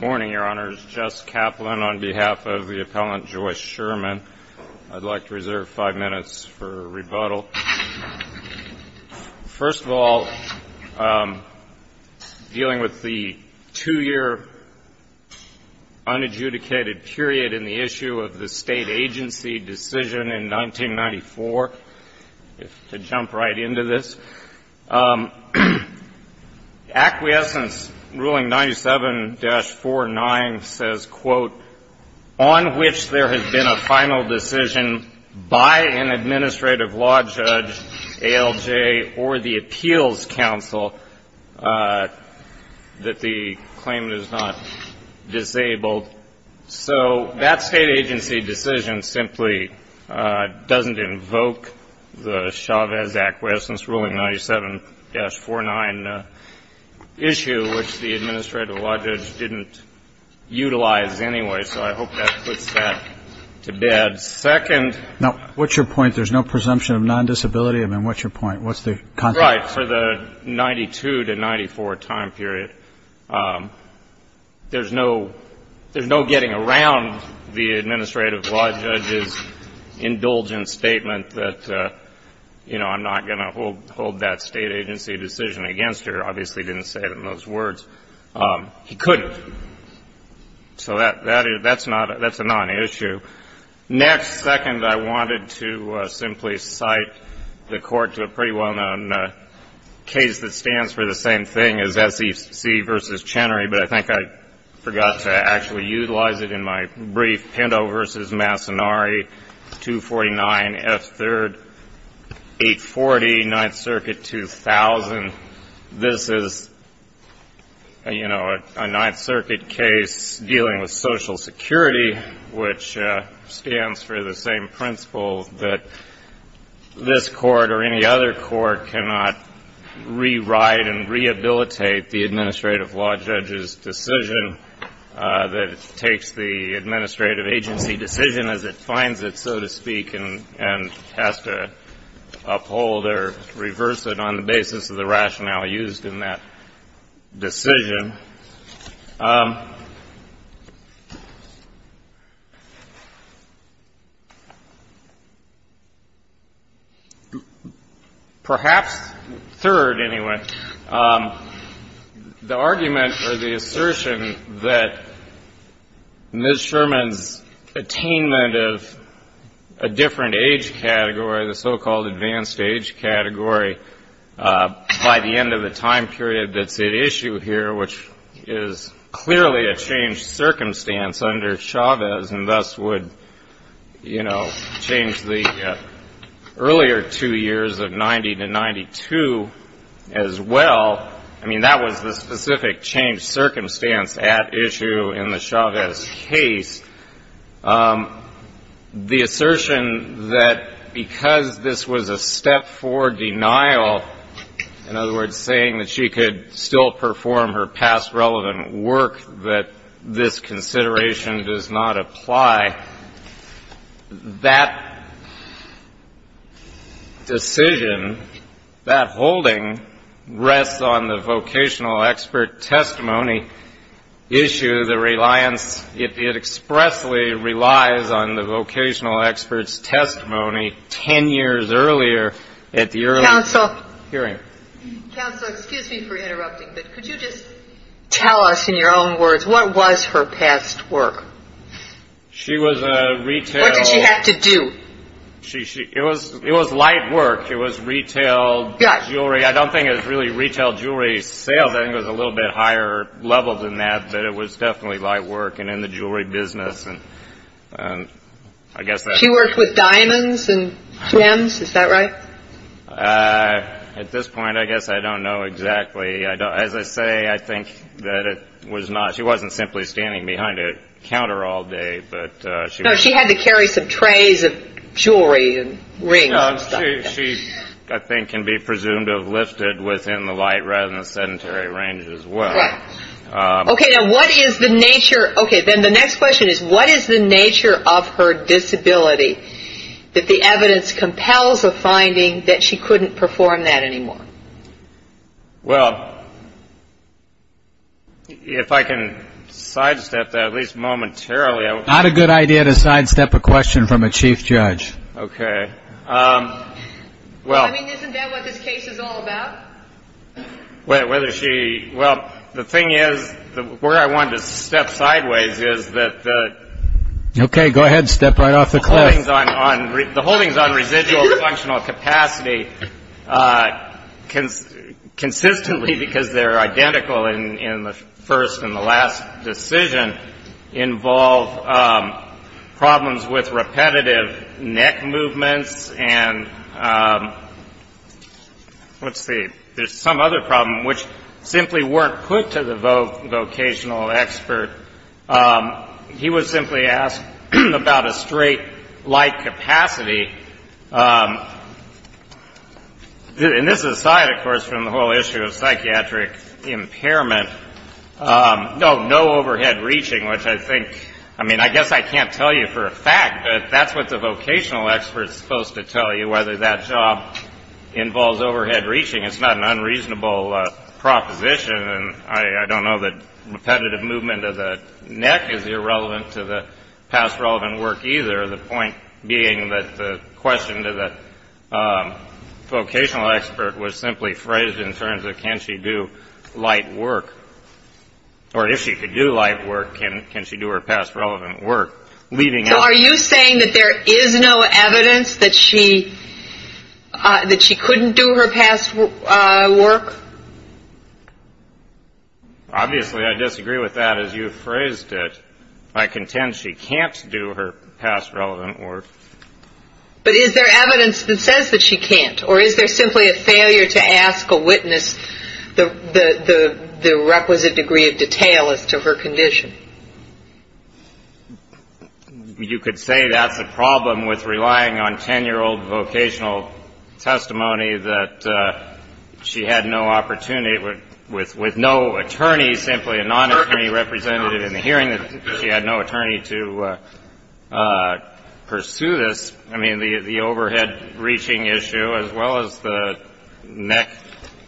Morning, Your Honors. Jess Kaplan on behalf of the appellant, Joyce Sherman. I'd like to reserve five minutes for rebuttal. First of all, dealing with the two-year unadjudicated period in the issue of the state agency decision in 1994, to jump right into this, acquiescence ruling 97-49 says, quote, on which there has been a final decision by an administrative law judge, ALJ, or the appeals council that the claimant is not disabled. So that state agency decision simply doesn't invoke the Chavez acquiescence ruling 97-49 issue, which the administrative law judge didn't utilize anyway. So I hope that puts that to bed. Second — Now, what's your point? There's no presumption of non-disability? I mean, what's your point? What's the context? Right. For the 92-94 time period, there's no getting around the administrative law judge's indulgent statement that, you know, I'm not going to hold that state agency decision against her. Obviously, he didn't say it in those words. He couldn't. So that's a non-issue. Next, second, I wanted to simply cite the Court to a pretty well-known case that stands for the same thing as SEC v. Chenery, but I think I forgot to actually utilize it in my brief. Pinto v. Massonari, 249 F. 3rd, 840, 9th Circuit, 2000. This is, you know, a 9th Circuit case dealing with Social Security, which stands for the same principle that this Court or any other Court cannot rewrite and rehabilitate the administrative law judge's decision that takes the administrative agency decision as it finds it, so to speak, and has to uphold or reverse it on the basis of the rationale used in that decision. Perhaps third, anyway, the argument or the assertion that Ms. Sherman's attainment of a different age category, the so-called advanced age category, by the end of the time period that's at issue here, which is clearly a changed circumstance under Chavez and thus would, you know, change the earlier two years of 90 to 92 as well. I mean, that was the specific changed circumstance at issue in the Chavez case. The assertion that because this was a step forward denial, in other words, saying that she could still perform her past relevant work, that this consideration does not apply, that decision, that holding, rests on the vocational expert testimony issue, the reliance, it expressly relies on the vocational expert's testimony 10 years earlier at the early hearing. Counsel, excuse me for interrupting, but could you just tell us in your own words what was her past work? She was a retail. What did she have to do? It was light work. It was retail jewelry. I don't think it was really retail jewelry sales. I think it was a little bit higher level than that, but it was definitely light work and in the jewelry business. She worked with diamonds and gems, is that right? At this point, I guess I don't know exactly. As I say, I think that it was not – she wasn't simply standing behind a counter all day. No, she had to carry some trays of jewelry and rings and stuff. She, I think, can be presumed to have lifted within the light rather than the sedentary range as well. Okay, now what is the nature – okay, then the next question is what is the nature of her disability that the evidence compels a finding that she couldn't perform that anymore? Well, if I can sidestep that, at least momentarily. Not a good idea to sidestep a question from a chief judge. Okay. I mean, isn't that what this case is all about? Whether she – well, the thing is, where I wanted to step sideways is that the – Okay, go ahead. Step right off the cliff. The holdings on residual functional capacity consistently, because they're identical in the first and the last decision, involve problems with repetitive neck movements and – let's see. There's some other problem which simply weren't put to the vocational expert. He was simply asked about a straight light capacity. And this is aside, of course, from the whole issue of psychiatric impairment. No, no overhead reaching, which I think – I mean, I guess I can't tell you for a fact, but that's what the vocational expert is supposed to tell you, whether that job involves overhead reaching. It's not an unreasonable proposition, and I don't know that repetitive movement of the neck is irrelevant to the past relevant work either. The point being that the question to the vocational expert was simply phrased in terms of can she do light work? Or if she could do light work, can she do her past relevant work? So are you saying that there is no evidence that she couldn't do her past work? Obviously, I disagree with that as you phrased it. I contend she can't do her past relevant work. But is there evidence that says that she can't? Or is there simply a failure to ask a witness the requisite degree of detail as to her condition? You could say that's a problem with relying on 10-year-old vocational testimony that she had no opportunity – with no attorney, simply a non-attorney representative in the hearing that she had no attorney to pursue this. I mean, the overhead reaching issue as well as the neck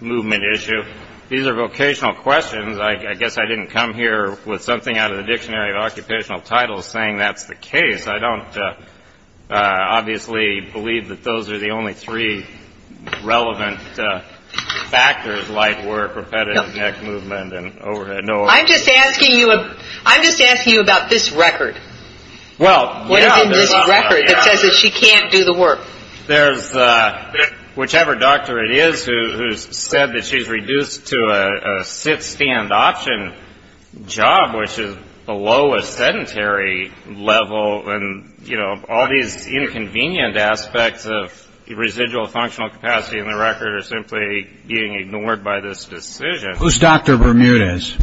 movement issue, these are vocational questions. I guess I didn't come here with something out of the Dictionary of Occupational Titles saying that's the case. I don't obviously believe that those are the only three relevant factors, light work, repetitive neck movement, and overhead. I'm just asking you about this record. What is in this record that says that she can't do the work? There's whichever doctor it is who's said that she's reduced to a sit-stand option job, which is below a sedentary level. And, you know, all these inconvenient aspects of residual functional capacity in the record are simply being ignored by this decision. Who's Dr. Bermudez?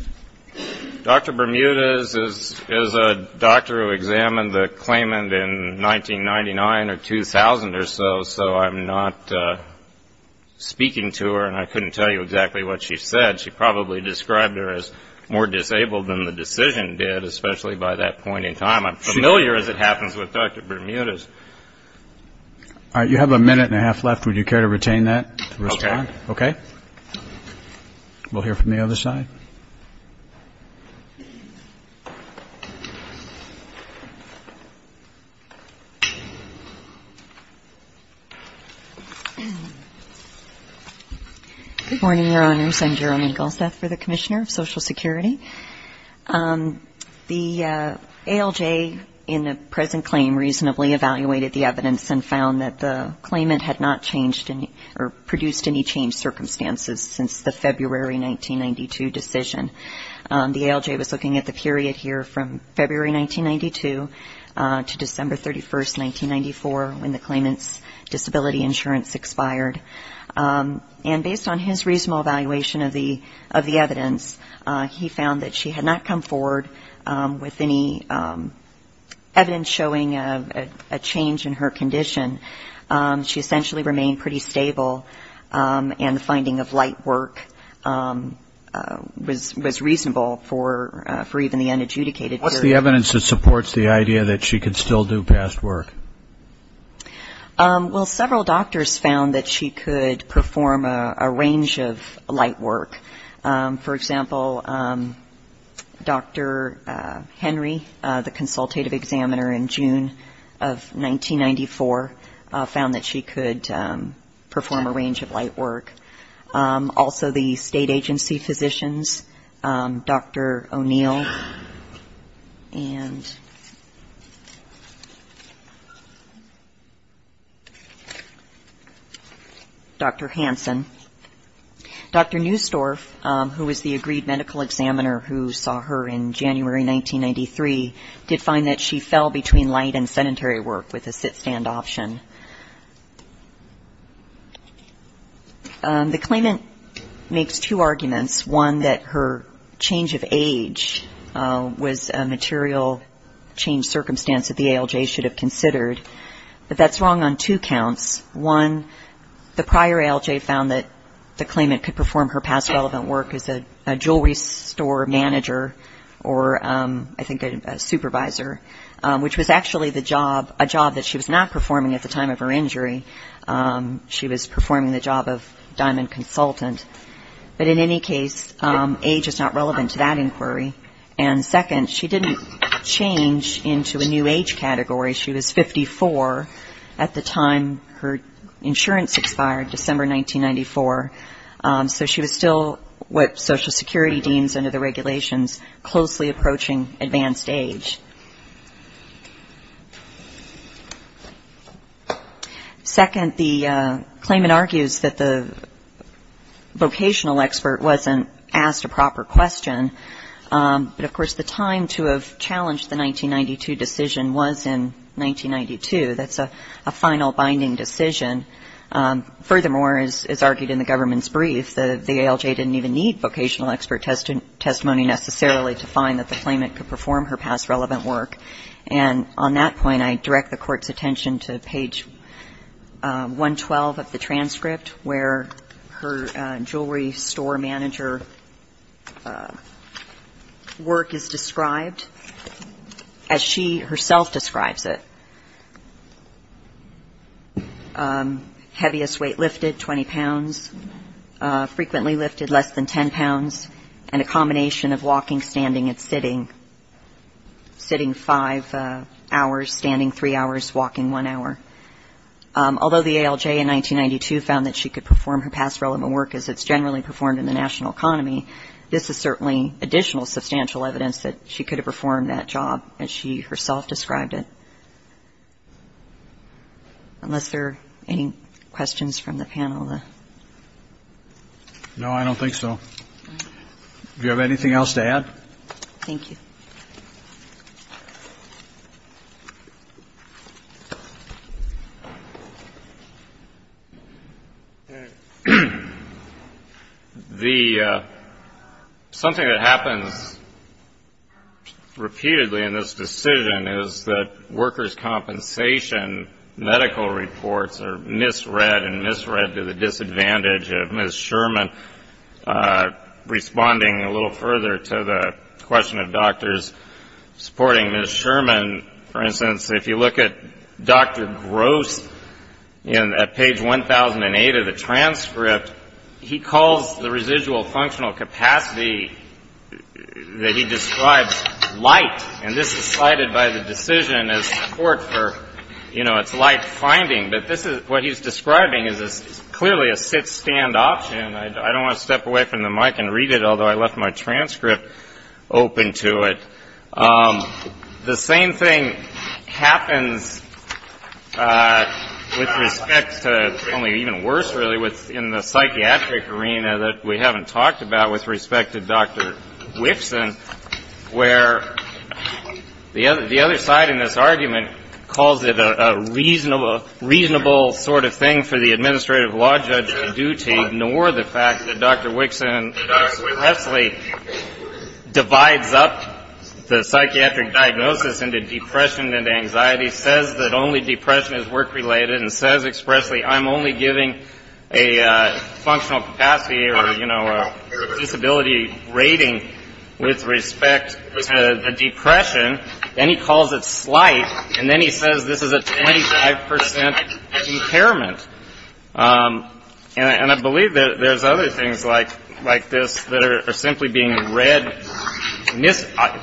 Dr. Bermudez is a doctor who examined the claimant in 1999 or 2000 or so, so I'm not speaking to her and I couldn't tell you exactly what she said. She probably described her as more disabled than the decision did, especially by that point in time. I'm familiar as it happens with Dr. Bermudez. All right, you have a minute and a half left. Would you care to retain that to respond? Okay. We'll hear from the other side. Good morning, Your Honors. I'm Jerome Ingallseth for the Commissioner of Social Security. The ALJ in the present claim reasonably evaluated the evidence and found that the claimant had not changed or produced any changed circumstances since the February 1992 decision. The ALJ was looking at the period here from February 1992 to December 31, 1994, when the claimant's disability insurance expired. And based on his reasonable evaluation of the evidence, he found that she had not come forward with any evidence showing a change in her condition. She essentially remained pretty stable, and the finding of light work was reasonable for even the unadjudicated period. What's the evidence that supports the idea that she could still do past work? Well, several doctors found that she could perform a range of light work. For example, Dr. Henry, the consultative examiner in June of 1994, found that she could perform a range of light work. Also the state agency physicians, Dr. O'Neill and Dr. Hansen. Dr. Neustorf, who was the agreed medical examiner who saw her in January 1993, did find that she fell between light and sedentary work with a sit-stand option. The claimant makes two arguments. One, that her change of age was a material change circumstance that the ALJ should have considered. But that's wrong on two counts. One, the prior ALJ found that the claimant could perform her past relevant work as a jewelry store manager, or I think a supervisor, which was actually a job that she was not performing at the time of her injury. She was performing the job of diamond consultant. But in any case, age is not relevant to that inquiry. And second, she didn't change into a new age category. She was 54 at the time her insurance expired, December 1994. So she was still what Social Security deems under the regulations, closely approaching advanced age. Second, the claimant argues that the vocational expert wasn't asked a proper question. But, of course, the time to have challenged the 1992 decision was in 1992. That's a final binding decision. Furthermore, as argued in the government's brief, the ALJ didn't even need vocational expert testimony necessarily to find that the claimant could perform her past relevant work. And on that point, I direct the Court's attention to page 112 of the transcript, where her jewelry store manager work is described as she herself describes it. Heaviest weight lifted, 20 pounds. Frequently lifted, less than 10 pounds. And a combination of walking, standing, and sitting. Sitting five hours, standing three hours, walking one hour. Although the ALJ in 1992 found that she could perform her past relevant work as it's generally performed in the national economy, this is certainly additional substantial evidence that she could have performed that job as she herself described it. Unless there are any questions from the panel? No, I don't think so. Do you have anything else to add? Thank you. Something that happens repeatedly in this decision is that workers' compensation medical reports are misread and misread to the disadvantage of Ms. Sherman responding a little further to the question of doctors supporting Ms. Sherman. For instance, if you look at Dr. Gross at page 1008 of the transcript, he calls the residual functional capacity that he describes light, and this is cited by the decision as support for its light finding. But this is what he's describing is clearly a sit-stand option. I don't want to step away from the mic and read it, although I left my transcript open to it. The same thing happens with respect to only even worse, really, within the psychiatric arena that we haven't talked about with respect to Dr. Whitson, where the other side in this argument calls it a reasonable sort of thing for the administrative law judge to do to ignore the fact that Dr. Whitson expressly divides up the psychiatric diagnosis into depression and anxiety, says that only depression is work-related, and says expressly, I'm only giving a functional capacity or a disability rating with respect to the depression. Then he calls it slight, and then he says this is a 25 percent impairment. And I believe that there's other things like this that are simply being read,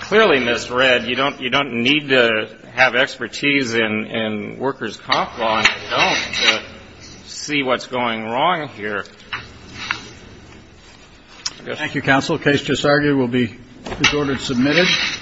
clearly misread. You don't need to have expertise in workers' comp law to see what's going wrong here. Thank you, counsel. The case just argued will be disordered and submitted.